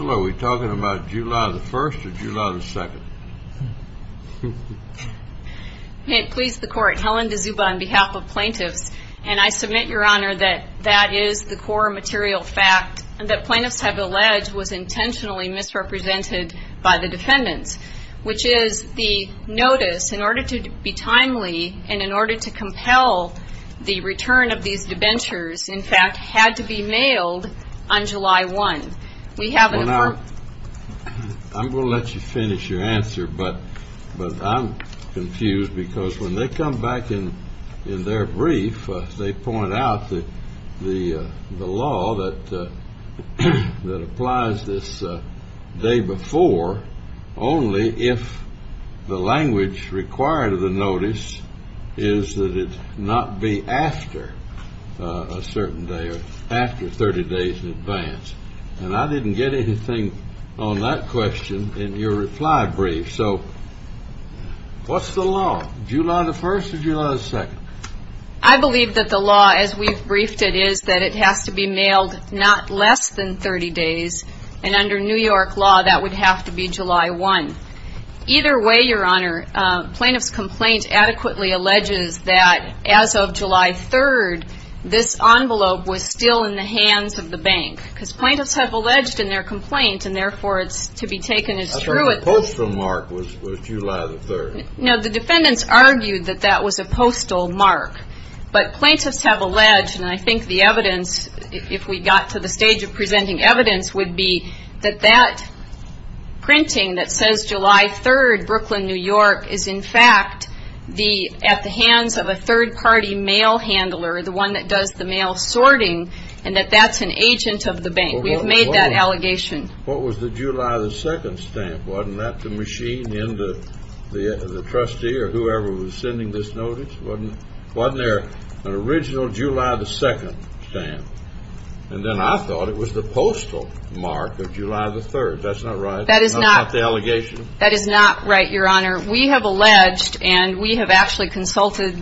Are we talking about July the 1st or July the 2nd? May it please the Court, Helen DeZuba on behalf of plaintiffs, and I submit, Your Honor, that that is the core material fact that plaintiffs have alleged was intentionally misrepresented by the defendants, which is the notice, in order to be timely and in order to compel the return of these debentures, in fact, had to be mailed on July 1. We have an affirmation... Well, now, I'm going to let you finish your answer, but I'm confused, because when they come back in their brief, they point out that the law that applies this day before, only if the language required of the notice is that it not be after a certain day or after 30 days in advance. And I didn't get anything on that question in your reply brief. So what's the law? July the 1st or July the 2nd? I believe that the law, as we've briefed it, is that it has to be mailed not less than 30 days, and under New York law, that would have to be July 1. Either way, Your Honor, plaintiff's complaint adequately alleges that as of July 3rd, this envelope was still in the hands of the bank, because plaintiffs have alleged in their complaint, and therefore it's to be taken as true... I thought the postal mark was July the 3rd. No, the defendants argued that that was a postal mark, but plaintiffs have alleged, and I think the evidence, if we got to the stage of presenting evidence, would be that that printing that says July 3rd, Brooklyn, New York, is in fact at the hands of a third-party mail handler, the one that does the mail sorting, and that that's an agent of the bank. We've made that allegation. What was the July the 2nd stamp? Wasn't that the machine in the trustee or whoever was sending this notice? Wasn't there an original July the 2nd stamp? And then I thought it was the postal mark of July the 3rd. That's not right? That is not right, Your Honor. We have alleged, and we have actually consulted,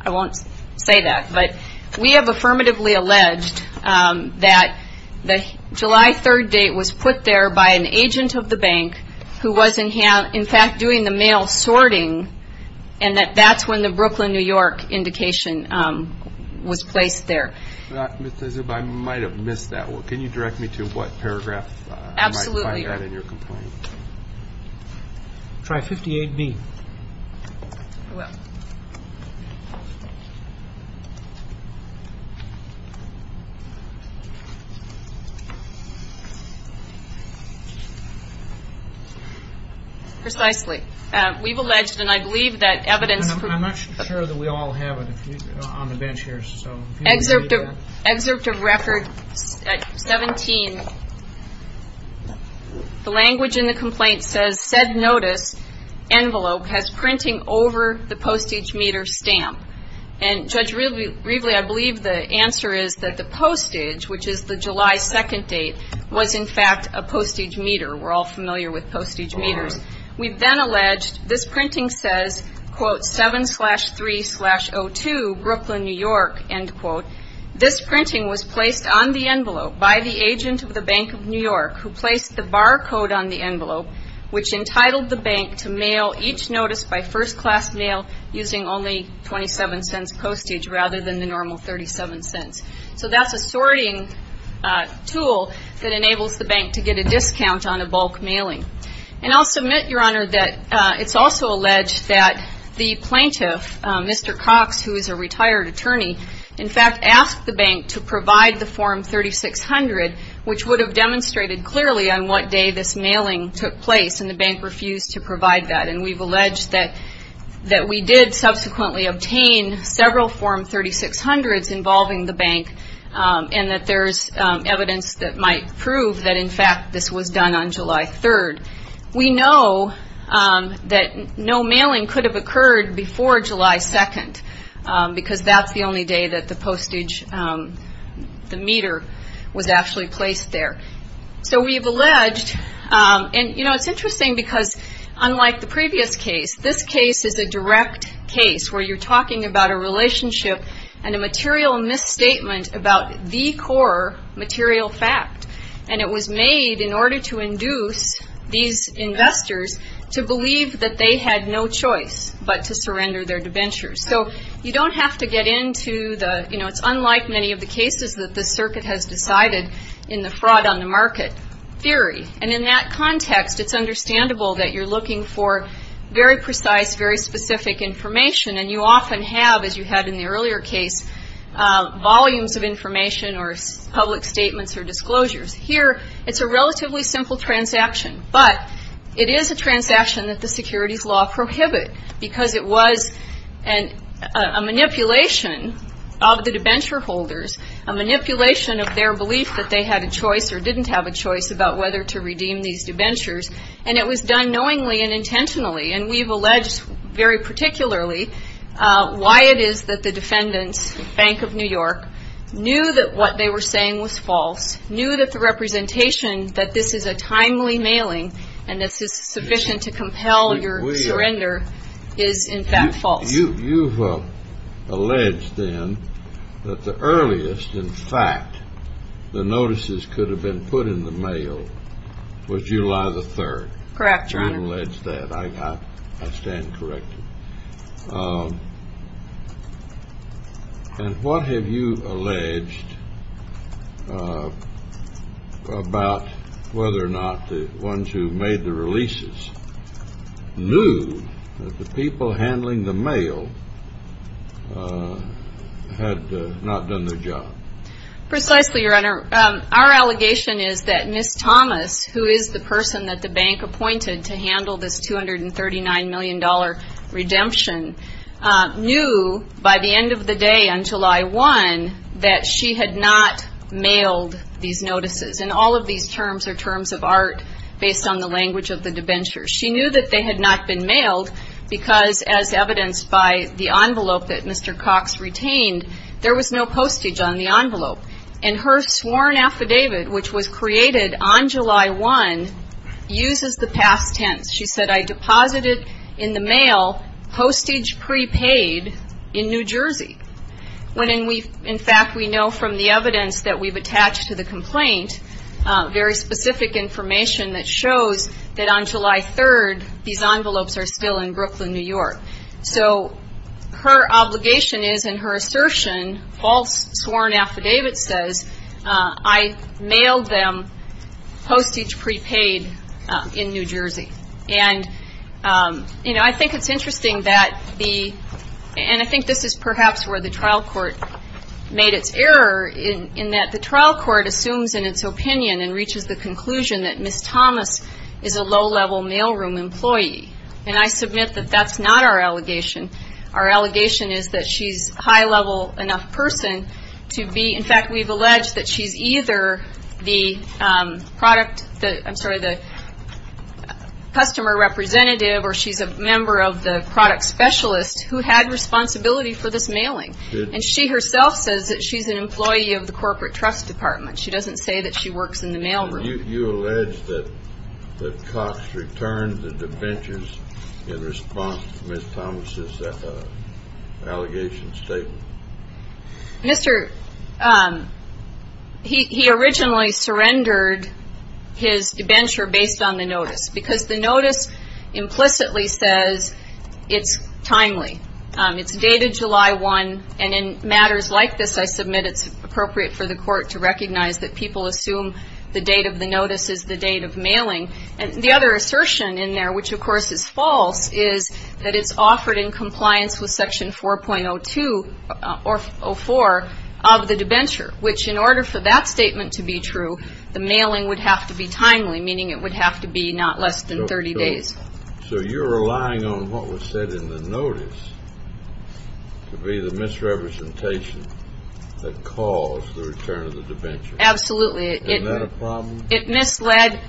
I won't say that, but we have affirmatively alleged that the July 3rd date was put there by an agent of the bank who was, in fact, doing the mail sorting, and that that's when the Brooklyn, New York indication was placed there. Ms. Azub, I might have missed that one. Can you direct me to what paragraph I might find that in your complaint? Absolutely, Your Honor. Try 58B. I will. Precisely. We've alleged, and I believe that evidence. I'm not sure that we all have it on the bench here. Excerpt of Record 17. The language in the complaint says, said notice envelope has printing over the postage meter stamp. And Judge Rievele, I believe the answer is that the postage, which is the July 2nd date, was, in fact, a postage meter. We're all familiar with postage meters. We've then alleged this printing says, quote, 7-3-02, Brooklyn, New York, end quote. This printing was placed on the envelope by the agent of the Bank of New York, who placed the barcode on the envelope, which entitled the bank to mail each notice by first-class mail using only 27 cents postage, rather than the normal 37 cents. So that's a sorting tool that enables the bank to get a discount on a bulk mailing. And I'll submit, Your Honor, that it's also alleged that the plaintiff, Mr. Cox, who is a retired attorney, in fact asked the bank to provide the Form 3600, which would have demonstrated clearly on what day this mailing took place, and the bank refused to provide that. And we've alleged that we did subsequently obtain several Form 3600s involving the bank and that there's evidence that might prove that, in fact, this was done on July 3rd. We know that no mailing could have occurred before July 2nd, because that's the only day that the postage, the meter, was actually placed there. So we've alleged, and, you know, it's interesting because unlike the previous case, this case is a direct case where you're talking about a relationship and a material misstatement about the core material fact. And it was made in order to induce these investors to believe that they had no choice but to surrender their debentures. So you don't have to get into the, you know, it's unlike many of the cases that the circuit has decided in the fraud on the market theory. And in that context, it's understandable that you're looking for very precise, very specific information. And you often have, as you had in the earlier case, volumes of information or public statements or disclosures. Here, it's a relatively simple transaction. But it is a transaction that the securities law prohibit, because it was a manipulation of the debenture holders, a manipulation of their belief that they had a choice or didn't have a choice about whether to redeem these debentures. And it was done knowingly and intentionally. And we've alleged very particularly why it is that the defendants, the Bank of New York, knew that what they were saying was false, knew that the representation that this is a timely mailing and this is sufficient to compel your surrender is, in fact, false. You've alleged then that the earliest, in fact, the notices could have been put in the mail was July the 3rd. Correct, Your Honor. I don't allege that. I stand corrected. And what have you alleged about whether or not the ones who made the releases knew that the people handling the mail had not done their job? Precisely, Your Honor. Our allegation is that Ms. Thomas, who is the person that the bank appointed to handle this $239 million redemption, knew by the end of the day on July 1 that she had not mailed these notices. And all of these terms are terms of art based on the language of the debenture. She knew that they had not been mailed because, as evidenced by the envelope that Mr. Cox retained, there was no postage on the envelope. And her sworn affidavit, which was created on July 1, uses the past tense. She said, I deposited in the mail postage prepaid in New Jersey. When, in fact, we know from the evidence that we've attached to the complaint very specific information that shows that on July 3rd these envelopes are still in Brooklyn, New York. So her obligation is, and her assertion, false sworn affidavit says, I mailed them postage prepaid in New Jersey. And, you know, I think it's interesting that the ‑‑ and I think this is perhaps where the trial court made its error in that the trial court assumes in its opinion and reaches the conclusion that Ms. Thomas is a low-level mailroom employee. And I submit that that's not our allegation. Our allegation is that she's a high-level enough person to be ‑‑ in fact, we've alleged that she's either the product ‑‑ I'm sorry, the customer representative or she's a member of the product specialist who had responsibility for this mailing. And she herself says that she's an employee of the corporate trust department. She doesn't say that she works in the mailroom. You allege that Cox returned the debentures in response to Ms. Thomas' allegation statement. Mr. ‑‑ he originally surrendered his debenture based on the notice because the notice implicitly says it's timely. It's dated July 1. And in matters like this, I submit it's appropriate for the court to recognize that people assume the date of the notice is the date of mailing. The other assertion in there, which of course is false, is that it's offered in compliance with Section 4.04 of the debenture, which in order for that statement to be true, the mailing would have to be timely, meaning it would have to be not less than 30 days. To be the misrepresentation that caused the return of the debenture. Absolutely. Isn't that a problem? It misled.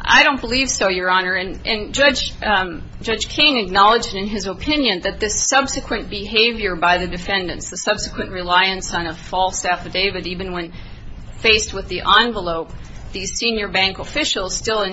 I don't believe so, Your Honor. And Judge King acknowledged in his opinion that this subsequent behavior by the defendants, the subsequent reliance on a false affidavit, even when faced with the envelope, the senior bank officials still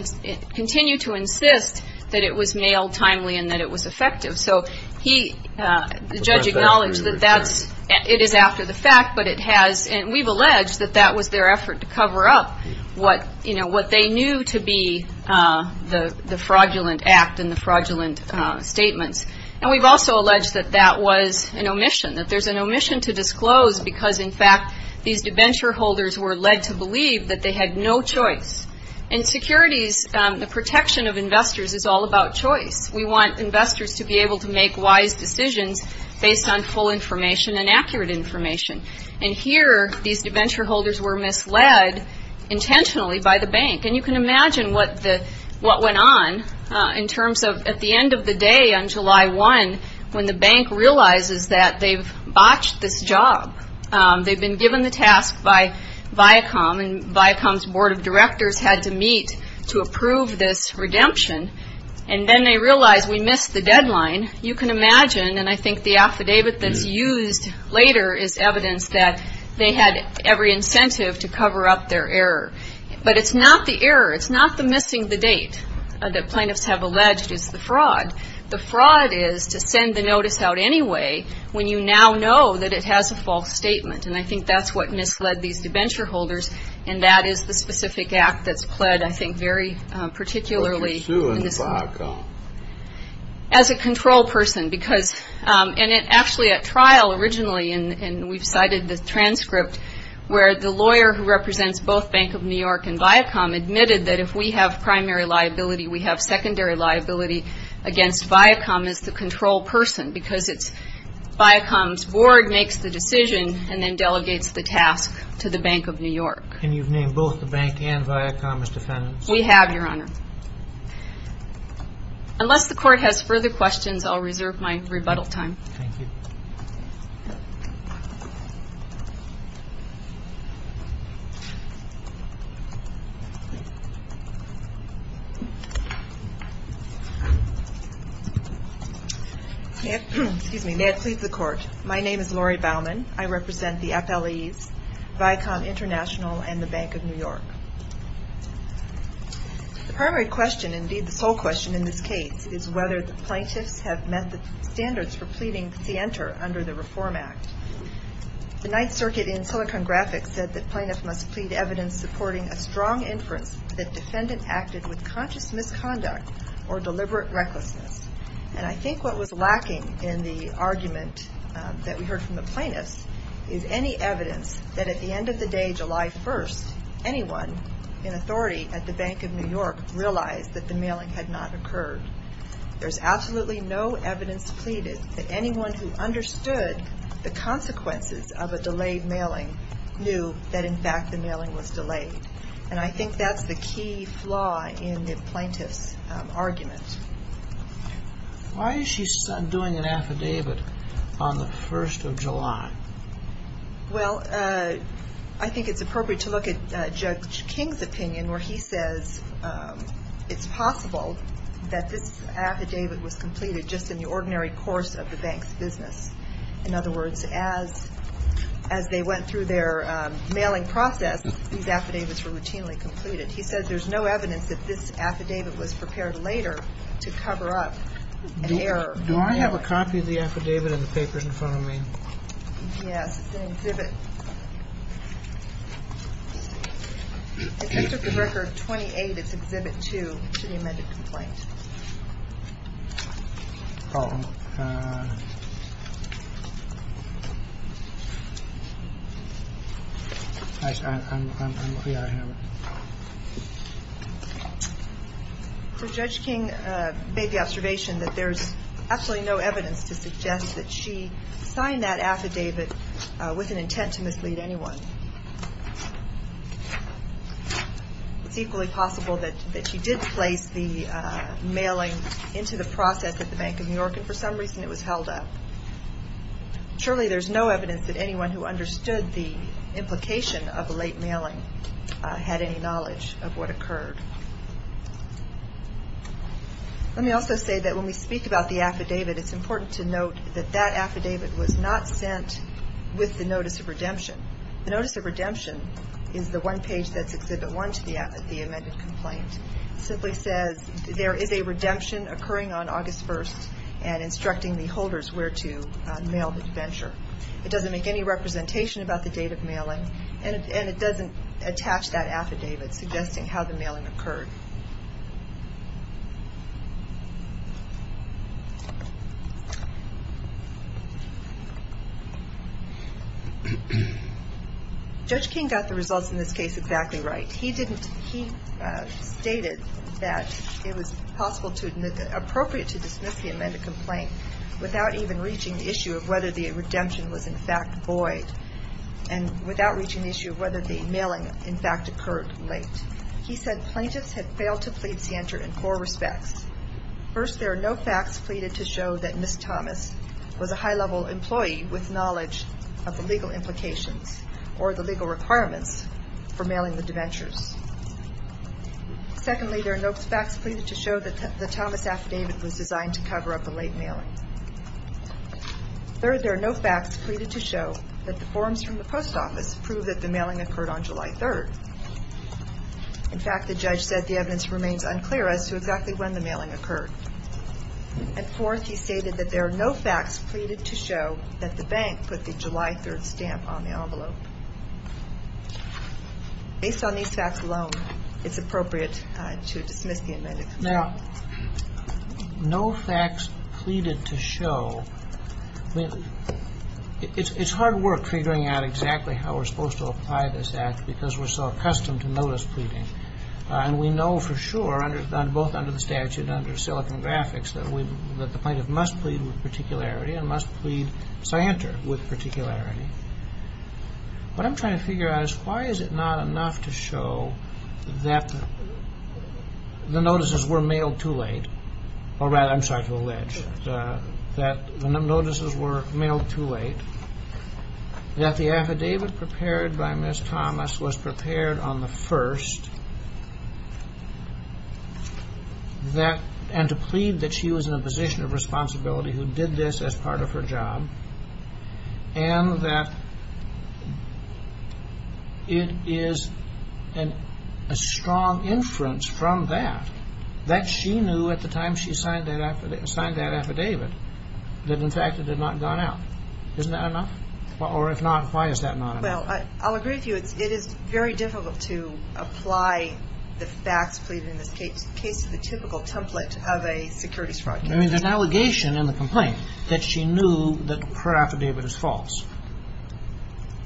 continue to insist that it was mailed timely and that it was effective. So he, the judge acknowledged that that's, it is after the fact, but it has, and we've alleged that that was their effort to cover up what they knew to be the fraudulent act and the fraudulent statements. And we've also alleged that that was an omission, that there's an omission to disclose because in fact these debenture holders were led to believe that they had no choice. In securities, the protection of investors is all about choice. We want investors to be able to make wise decisions based on full information and accurate information. And here these debenture holders were misled intentionally by the bank. And you can imagine what went on in terms of at the end of the day on July 1 when the bank realizes that they've botched this job. They've been given the task by Viacom, and Viacom's board of directors had to meet to approve this redemption. And then they realize we missed the deadline. You can imagine, and I think the affidavit that's used later is evidence that they had every incentive to cover up their error. But it's not the error. It's not the missing the date that plaintiffs have alleged is the fraud. The fraud is to send the notice out anyway when you now know that it has a false statement. And I think that's what misled these debenture holders, and that is the specific act that's pled, I think, very particularly in this case. But you're suing Viacom. As a control person because, and actually at trial originally, and we've cited the transcript where the lawyer who represents both Bank of New York and Viacom admitted that if we have primary liability, we have secondary liability against Viacom as the control person because it's Viacom's board makes the decision and then delegates the task to the Bank of New York. And you've named both the bank and Viacom as defendants? We have, Your Honor. Unless the court has further questions, I'll reserve my rebuttal time. Thank you. May it please the Court. My name is Lori Baumann. I represent the FLEs, Viacom International, and the Bank of New York. The primary question, indeed the sole question in this case, is whether the plaintiffs have met the standards for pleading scienter under the Reform Act. The Ninth Circuit in Silicon Graphic said that plaintiffs must plead evidence supporting a strong inference that defendants acted with conscious misconduct or deliberate recklessness. And I think what was lacking in the argument that we heard from the plaintiffs is any evidence that at the end of the day, July 1st, anyone in authority at the Bank of New York realized that the mailing had not occurred. There's absolutely no evidence pleaded that anyone who understood the consequences of a delayed mailing knew that, in fact, the mailing was delayed. And I think that's the key flaw in the plaintiff's argument. Why is she doing an affidavit on the 1st of July? Well, I think it's appropriate to look at Judge King's opinion where he says it's possible that this affidavit was completed just in the ordinary course of the bank's business. In other words, as they went through their mailing process, these affidavits were routinely completed. He says there's no evidence that this affidavit was prepared later to cover up an error. Do I have a copy of the affidavit in the papers in front of me? Yes, it's an exhibit. If you took the record 28, it's exhibit 2 to the amended complaint. Oh. I'm clear I have it. So Judge King made the observation that there's absolutely no evidence to suggest that she signed that affidavit with an intent to mislead anyone. It's equally possible that she did place the mailing into the process at the Bank of New York, and for some reason it was held up. Surely there's no evidence that anyone who understood the implication of a late mailing had any knowledge of what occurred. Let me also say that when we speak about the affidavit, it's important to note that that affidavit was not sent with the notice of redemption. The notice of redemption is the one page that's exhibit 1 to the amended complaint. It simply says there is a redemption occurring on August 1st and instructing the holders where to mail the venture. It doesn't make any representation about the date of mailing, and it doesn't attach that affidavit suggesting how the mailing occurred. Judge King got the results in this case exactly right. He stated that it was possible and appropriate to dismiss the amended complaint without even reaching the issue of whether the redemption was in fact void. And without reaching the issue of whether the mailing in fact occurred late. He said plaintiffs had failed to plead scienter in four respects. First, there are no facts pleaded to show that Ms. Thomas was a high-level employee with knowledge of the legal implications or the legal requirements for mailing the debentures. Secondly, there are no facts pleaded to show that the Thomas affidavit was designed to cover up a late mailing. Third, there are no facts pleaded to show that the forms from the post office prove that the mailing occurred on July 3rd. In fact, the judge said the evidence remains unclear as to exactly when the mailing occurred. And fourth, he stated that there are no facts pleaded to show that the bank put the July 3rd stamp on the envelope. Based on these facts alone, it's appropriate to dismiss the amended complaint. Now, no facts pleaded to show, it's hard work figuring out exactly how we're supposed to apply this act because we're so accustomed to notice pleading. And we know for sure, both under the statute and under Silicon Graphics, that the plaintiff must plead with particularity and must plead scienter with particularity. What I'm trying to figure out is why is it not enough to show that the notices were mailed too late, or rather, I'm sorry to allege, that the notices were mailed too late, that the affidavit prepared by Ms. Thomas was prepared on the 1st, and to plead that she was in a position of responsibility who did this as part of her job, and that it is a strong inference from that that she knew at the time she signed that affidavit that in fact it had not gone out. Isn't that enough? Or if not, why is that not enough? Well, I'll agree with you. It is very difficult to apply the facts pleaded in this case to the typical template of a securities fraud case. I mean, there's an allegation in the complaint that she knew that her affidavit is false.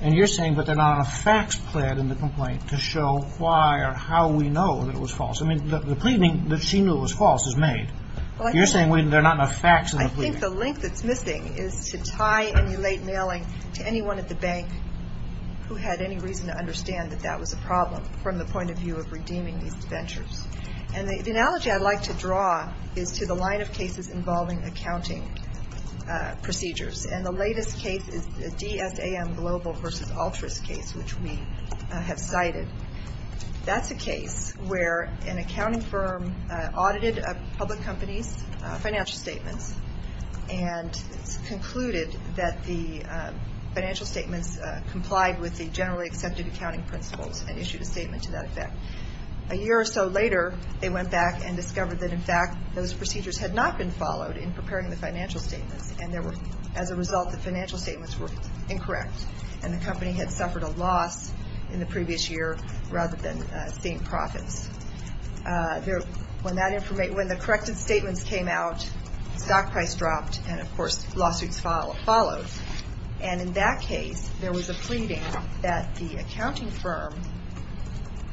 And you're saying that there are not enough facts pled in the complaint to show why or how we know that it was false. I mean, the pleading that she knew was false is made. You're saying there are not enough facts in the pleading. I think the link that's missing is to tie any late mailing to anyone at the bank who had any reason to understand that that was a problem from the point of view of redeeming these debentures. And the analogy I'd like to draw is to the line of cases involving accounting procedures. And the latest case is the DSAM global versus altruist case, which we have cited. That's a case where an accounting firm audited a public company's financial statements and concluded that the financial statements complied with the generally accepted accounting principles and issued a statement to that effect. A year or so later, they went back and discovered that, in fact, those procedures had not been followed in preparing the financial statements. And as a result, the financial statements were incorrect. And the company had suffered a loss in the previous year rather than seeing profits. When the corrected statements came out, stock price dropped, and, of course, lawsuits followed. And in that case, there was a pleading that the accounting firm,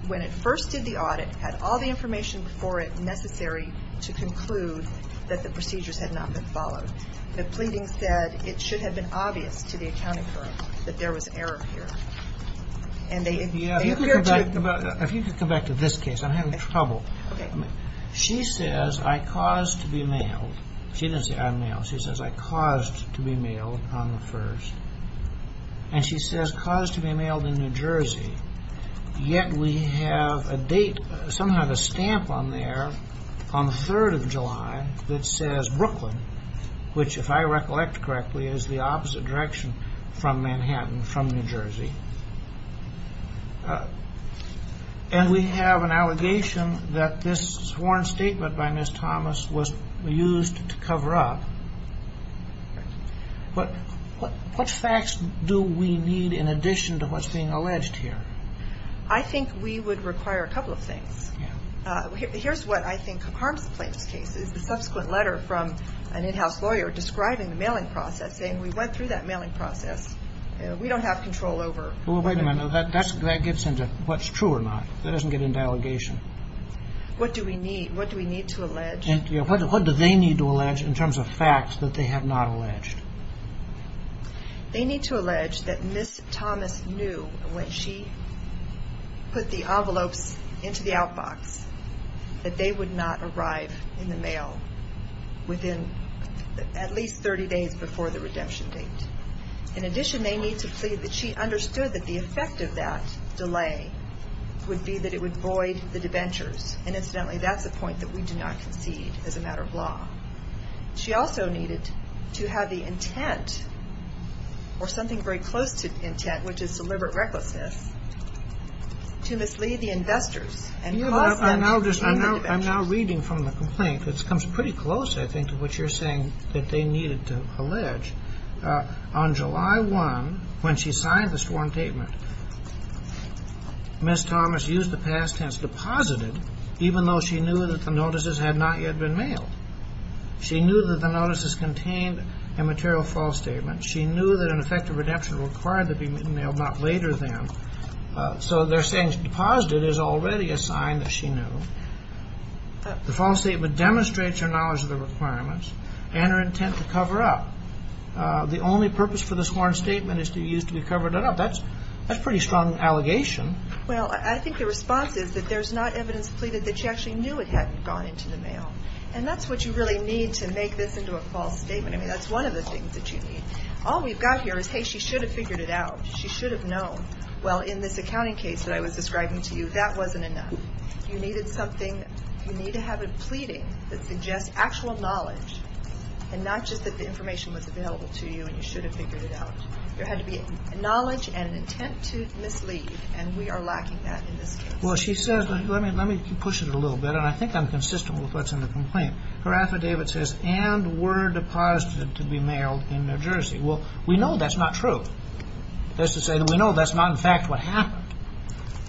when it first did the audit, had all the information before it necessary to conclude that the procedures had not been followed. The pleading said it should have been obvious to the accounting firm that there was error here. And they appear to have been. If you could go back to this case, I'm having trouble. She says, I caused to be mailed. She doesn't say, I'm mailed. She says, I caused to be mailed on the 1st. And she says, caused to be mailed in New Jersey. Yet we have a date, somehow, a stamp on there on the 3rd of July that says Brooklyn, which, if I recollect correctly, is the opposite direction from Manhattan, from New Jersey. And we have an allegation that this sworn statement by Ms. Thomas was used to cover up. What facts do we need in addition to what's being alleged here? I think we would require a couple of things. Here's what I think harms the plaintiff's case. It's the subsequent letter from an in-house lawyer describing the mailing process, saying we went through that mailing process. We don't have control over. Well, wait a minute. That gets into what's true or not. That doesn't get into allegation. What do we need? What do we need to allege? What do they need to allege in terms of facts that they have not alleged? They need to allege that Ms. Thomas knew when she put the envelopes into the outbox that they would not arrive in the mail within at least 30 days before the redemption date. In addition, they need to plead that she understood that the effect of that delay would be that it would void the debentures. And incidentally, that's a point that we do not concede as a matter of law. She also needed to have the intent or something very close to intent, which is deliberate recklessness, to mislead the investors. I'm now reading from the complaint. It comes pretty close, I think, to what you're saying that they needed to allege. On July 1, when she signed the sworn statement, Ms. Thomas used the past tense, deposited, even though she knew that the notices had not yet been mailed. She knew that the notices contained a material false statement. She knew that an effective redemption required them to be mailed, not later than. So they're saying deposited is already a sign that she knew. The false statement demonstrates her knowledge of the requirements and her intent to cover up. The only purpose for the sworn statement is to be used to be covered up. That's a pretty strong allegation. Well, I think the response is that there's not evidence pleaded that she actually knew it had gone into the mail. And that's what you really need to make this into a false statement. I mean, that's one of the things that you need. All we've got here is, hey, she should have figured it out. She should have known. Well, in this accounting case that I was describing to you, that wasn't enough. You needed something. You need to have a pleading that suggests actual knowledge, and not just that the information was available to you and you should have figured it out. There had to be knowledge and an intent to mislead, and we are lacking that in this case. Well, she says, let me push it a little bit, and I think I'm consistent with what's in the complaint. Her affidavit says, and were deposited to be mailed in New Jersey. Well, we know that's not true. That's to say that we know that's not, in fact, what happened.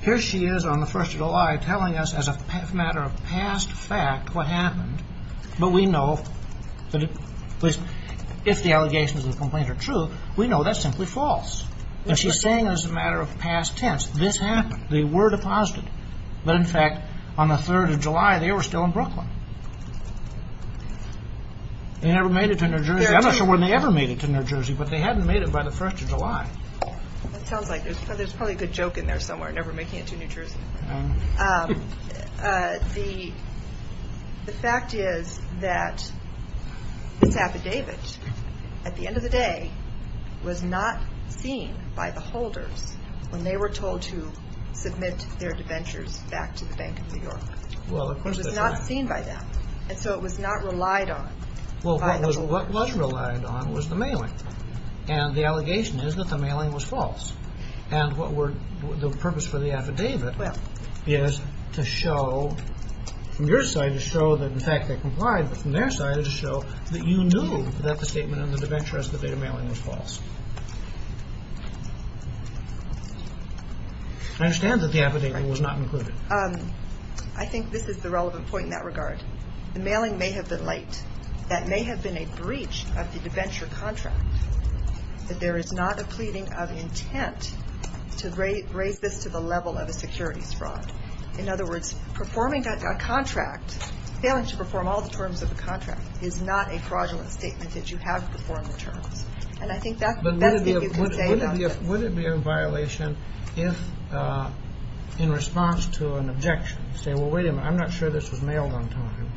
Here she is on the 1st of July telling us as a matter of past fact what happened, but we know if the allegations of the complaint are true, we know that's simply false. And she's saying it as a matter of past tense. This happened. They were deposited. But, in fact, on the 3rd of July, they were still in Brooklyn. They never made it to New Jersey. I'm not sure when they ever made it to New Jersey, but they hadn't made it by the 1st of July. That sounds like there's probably a good joke in there somewhere, never making it to New Jersey. The fact is that this affidavit, at the end of the day, was not seen by the holders when they were told to submit their debentures back to the Bank of New York. It was not seen by them. And so it was not relied on by the holders. Well, what was relied on was the mailing. And the allegation is that the mailing was false. And the purpose for the affidavit is to show, from your side, to show that, in fact, they complied, but from their side, to show that you knew that the statement on the debenture as the date of mailing was false. I understand that the affidavit was not included. I think this is the relevant point in that regard. The mailing may have been late. That may have been a breach of the debenture contract. But there is not a pleading of intent to raise this to the level of a securities fraud. In other words, performing a contract, failing to perform all the terms of the contract, is not a fraudulent statement that you have performed the terms. And I think that's the best thing you can say about this. But would it be a violation if, in response to an objection, you say, well, wait a minute, I'm not sure this was mailed on time.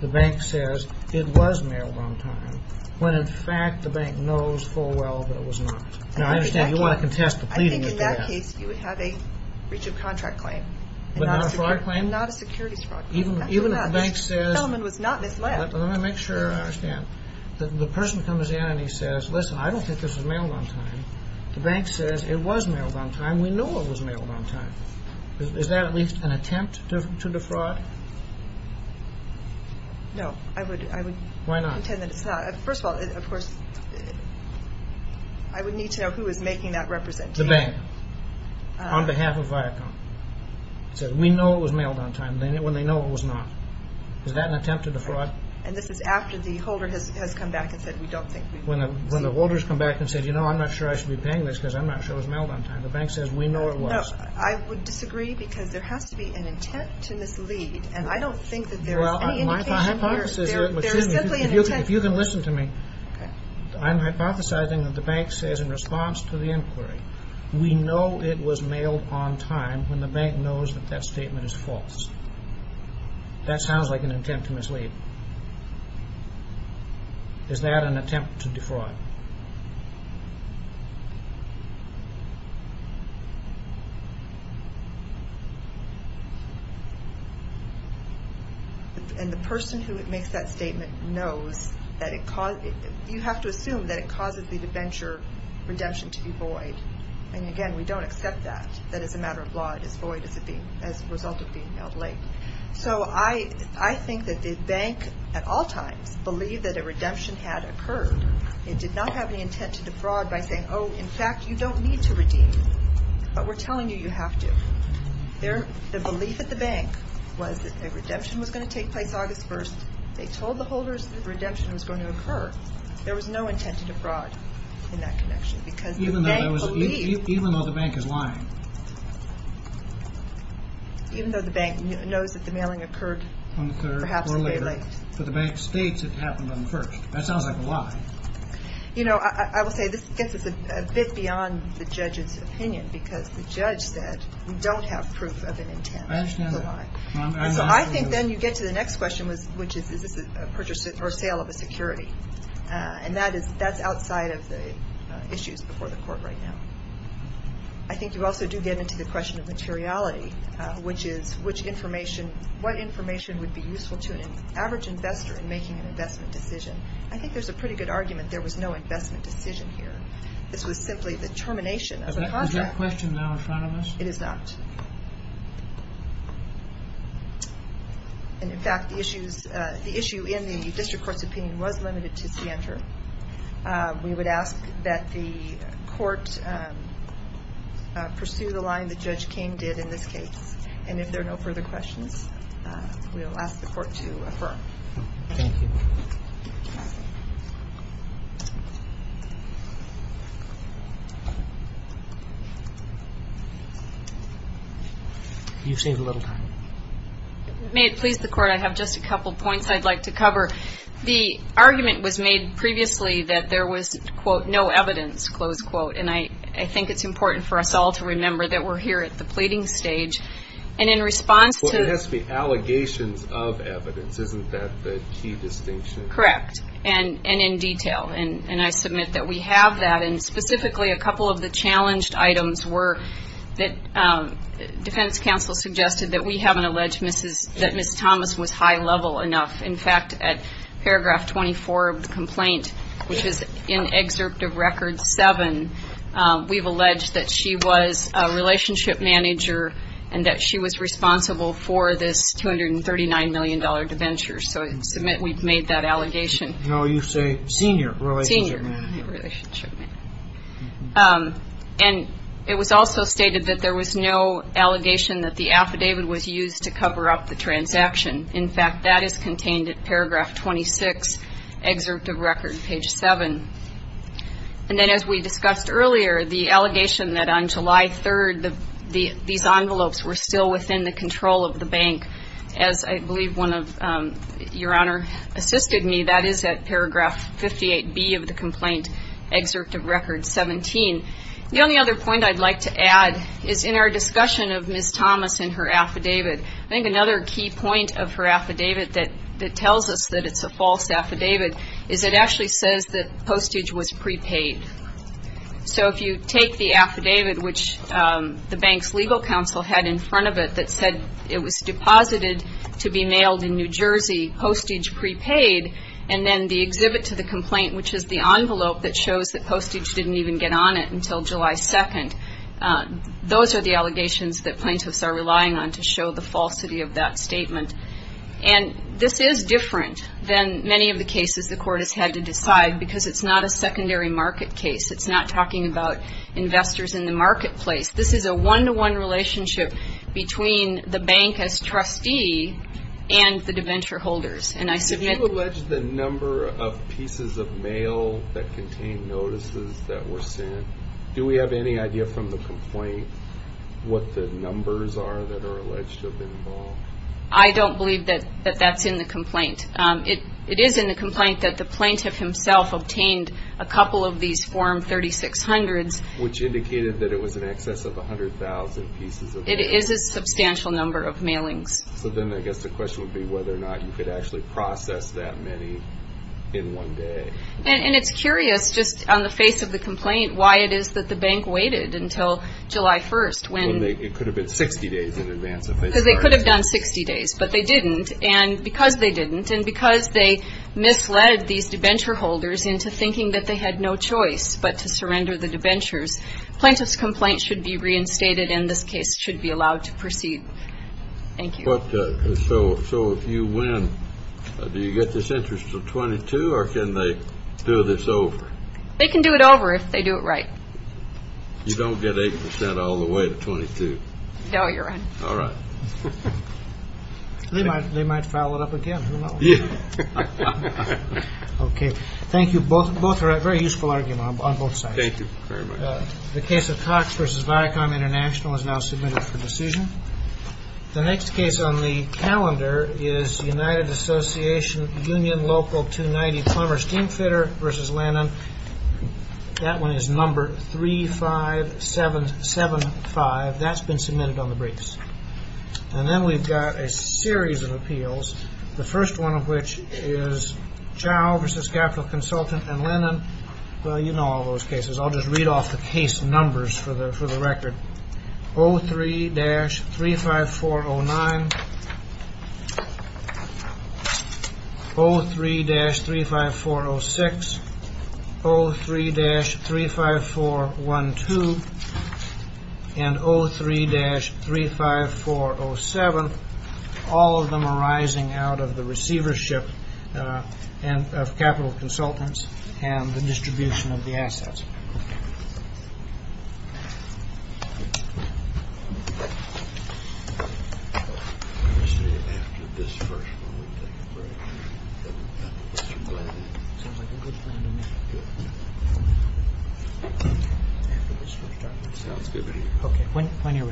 The bank says it was mailed on time. When, in fact, the bank knows full well that it was not. Now, I understand you want to contest the pleading. I think, in that case, you would have a breach of contract claim. But not a fraud claim? Not a securities fraud claim. Even if the bank says... The element was not misled. Let me make sure I understand. The person comes in and he says, listen, I don't think this was mailed on time. The bank says it was mailed on time. We know it was mailed on time. Is that at least an attempt to defraud? No, I would... Why not? First of all, of course, I would need to know who is making that representation. The bank, on behalf of Viacom. It says, we know it was mailed on time, when they know it was not. Is that an attempt to defraud? And this is after the holder has come back and said, we don't think... When the holder has come back and said, you know, I'm not sure I should be paying this because I'm not sure it was mailed on time. The bank says, we know it was. No, I would disagree because there has to be an intent to mislead. And I don't think that there is any indication here... If you can listen to me. I'm hypothesizing that the bank says in response to the inquiry, we know it was mailed on time when the bank knows that that statement is false. That sounds like an attempt to mislead. Is that an attempt to defraud? No. And the person who makes that statement knows that it causes... You have to assume that it causes the debenture redemption to be void. And again, we don't accept that. That is a matter of law. It is void as a result of being mailed late. So I think that the bank, at all times, believed that a redemption had occurred. It did not have any intent to defraud by saying, oh, in fact, you don't need to redeem, but we're telling you you have to. The belief at the bank was that a redemption was going to take place August 1st. They told the holders that redemption was going to occur. There was no intent to defraud in that connection because the bank believed... Even though the bank is lying. Even though the bank knows that the mailing occurred perhaps a day late. But the bank states it happened on the 1st. That sounds like a lie. You know, I will say this gets us a bit beyond the judge's opinion because the judge said we don't have proof of an intent. I understand that. So I think then you get to the next question, which is, is this a purchase or sale of a security? And that's outside of the issues before the court right now. I think you also do get into the question of materiality, which is what information would be useful to an average investor in making an investment decision. I think there's a pretty good argument there was no investment decision here. This was simply the termination of the contract. Is that question now in front of us? It is not. And, in fact, the issue in the district court's opinion was limited to CNTR. We would ask that the court pursue the line that Judge King did in this case. And if there are no further questions, we will ask the court to affirm. Thank you. You've saved a little time. May it please the court, I have just a couple of points I'd like to cover. The argument was made previously that there was, quote, no evidence, close quote, and I think it's important for us all to remember that we're here at the pleading stage. And in response to Well, there has to be allegations of evidence. Isn't that the key distinction? Correct. And in detail. And I submit that we have that. And specifically, a couple of the challenged items were that defense counsel suggested that we haven't alleged that Ms. Thomas was high level enough. In fact, at paragraph 24 of the complaint, which is in excerpt of record seven, we've alleged that she was a relationship manager and that she was responsible for this $239 million debenture. So I submit we've made that allegation. No, you say senior relationship manager. Senior relationship manager. And it was also stated that there was no allegation that the affidavit was used to cover up the transaction. In fact, that is contained at paragraph 26, excerpt of record page seven. And then as we discussed earlier, the allegation that on July 3rd these envelopes were still within the control of the bank, as I believe one of your Honor assisted me, that is at paragraph 58B of the complaint, excerpt of record 17. The only other point I'd like to add is in our discussion of Ms. Thomas and her affidavit, I think another key point of her affidavit that tells us that it's a false affidavit is it actually says that postage was prepaid. So if you take the affidavit, which the bank's legal counsel had in front of it that said it was deposited to be mailed in New Jersey, postage prepaid, and then the exhibit to the complaint, which is the envelope that shows that postage didn't even get on it until July 2nd, those are the allegations that plaintiffs are relying on to show the falsity of that statement. And this is different than many of the cases the court has had to decide because it's not a secondary market case. It's not talking about investors in the marketplace. This is a one-to-one relationship between the bank as trustee and the de ventureholders. And I submit... If you allege the number of pieces of mail that contained notices that were sent, do we have any idea from the complaint what the numbers are that are alleged to have been involved? I don't believe that that's in the complaint. It is in the complaint that the plaintiff himself obtained a couple of these form 3600s. Which indicated that it was in excess of 100,000 pieces of mail. It is a substantial number of mailings. So then I guess the question would be whether or not you could actually process that many in one day. And it's curious just on the face of the complaint why it is that the bank waited until July 1st. It could have been 60 days in advance. Because they could have done 60 days. But they didn't. And because they didn't and because they misled these de ventureholders into thinking that they had no choice but to surrender the de ventures, plaintiff's complaint should be reinstated and this case should be allowed to proceed. Thank you. So you win. Do you get this interest of 22 or can they do this over? They can do it over if they do it right. You don't get 8% all the way to 22? No, you're right. All right. They might file it up again. Who knows? Okay. Thank you. Both are a very useful argument on both sides. Thank you very much. The case of Cox v. Viacom International is now submitted for decision. The next case on the calendar is United Association Union Local 290 Plumber Steam Fitter v. Lennon. That one is number 35775. That's been submitted on the briefs. And then we've got a series of appeals. The first one of which is Chow v. Capital Consultant and Lennon. Well, you know all those cases. I'll just read off the case numbers for the record. 03-35409, 03-35406, 03-35412, and 03-35407. All of them arising out of the receivership of capital consultants and the distribution of the assets. Okay. Okay. When you're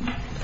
ready.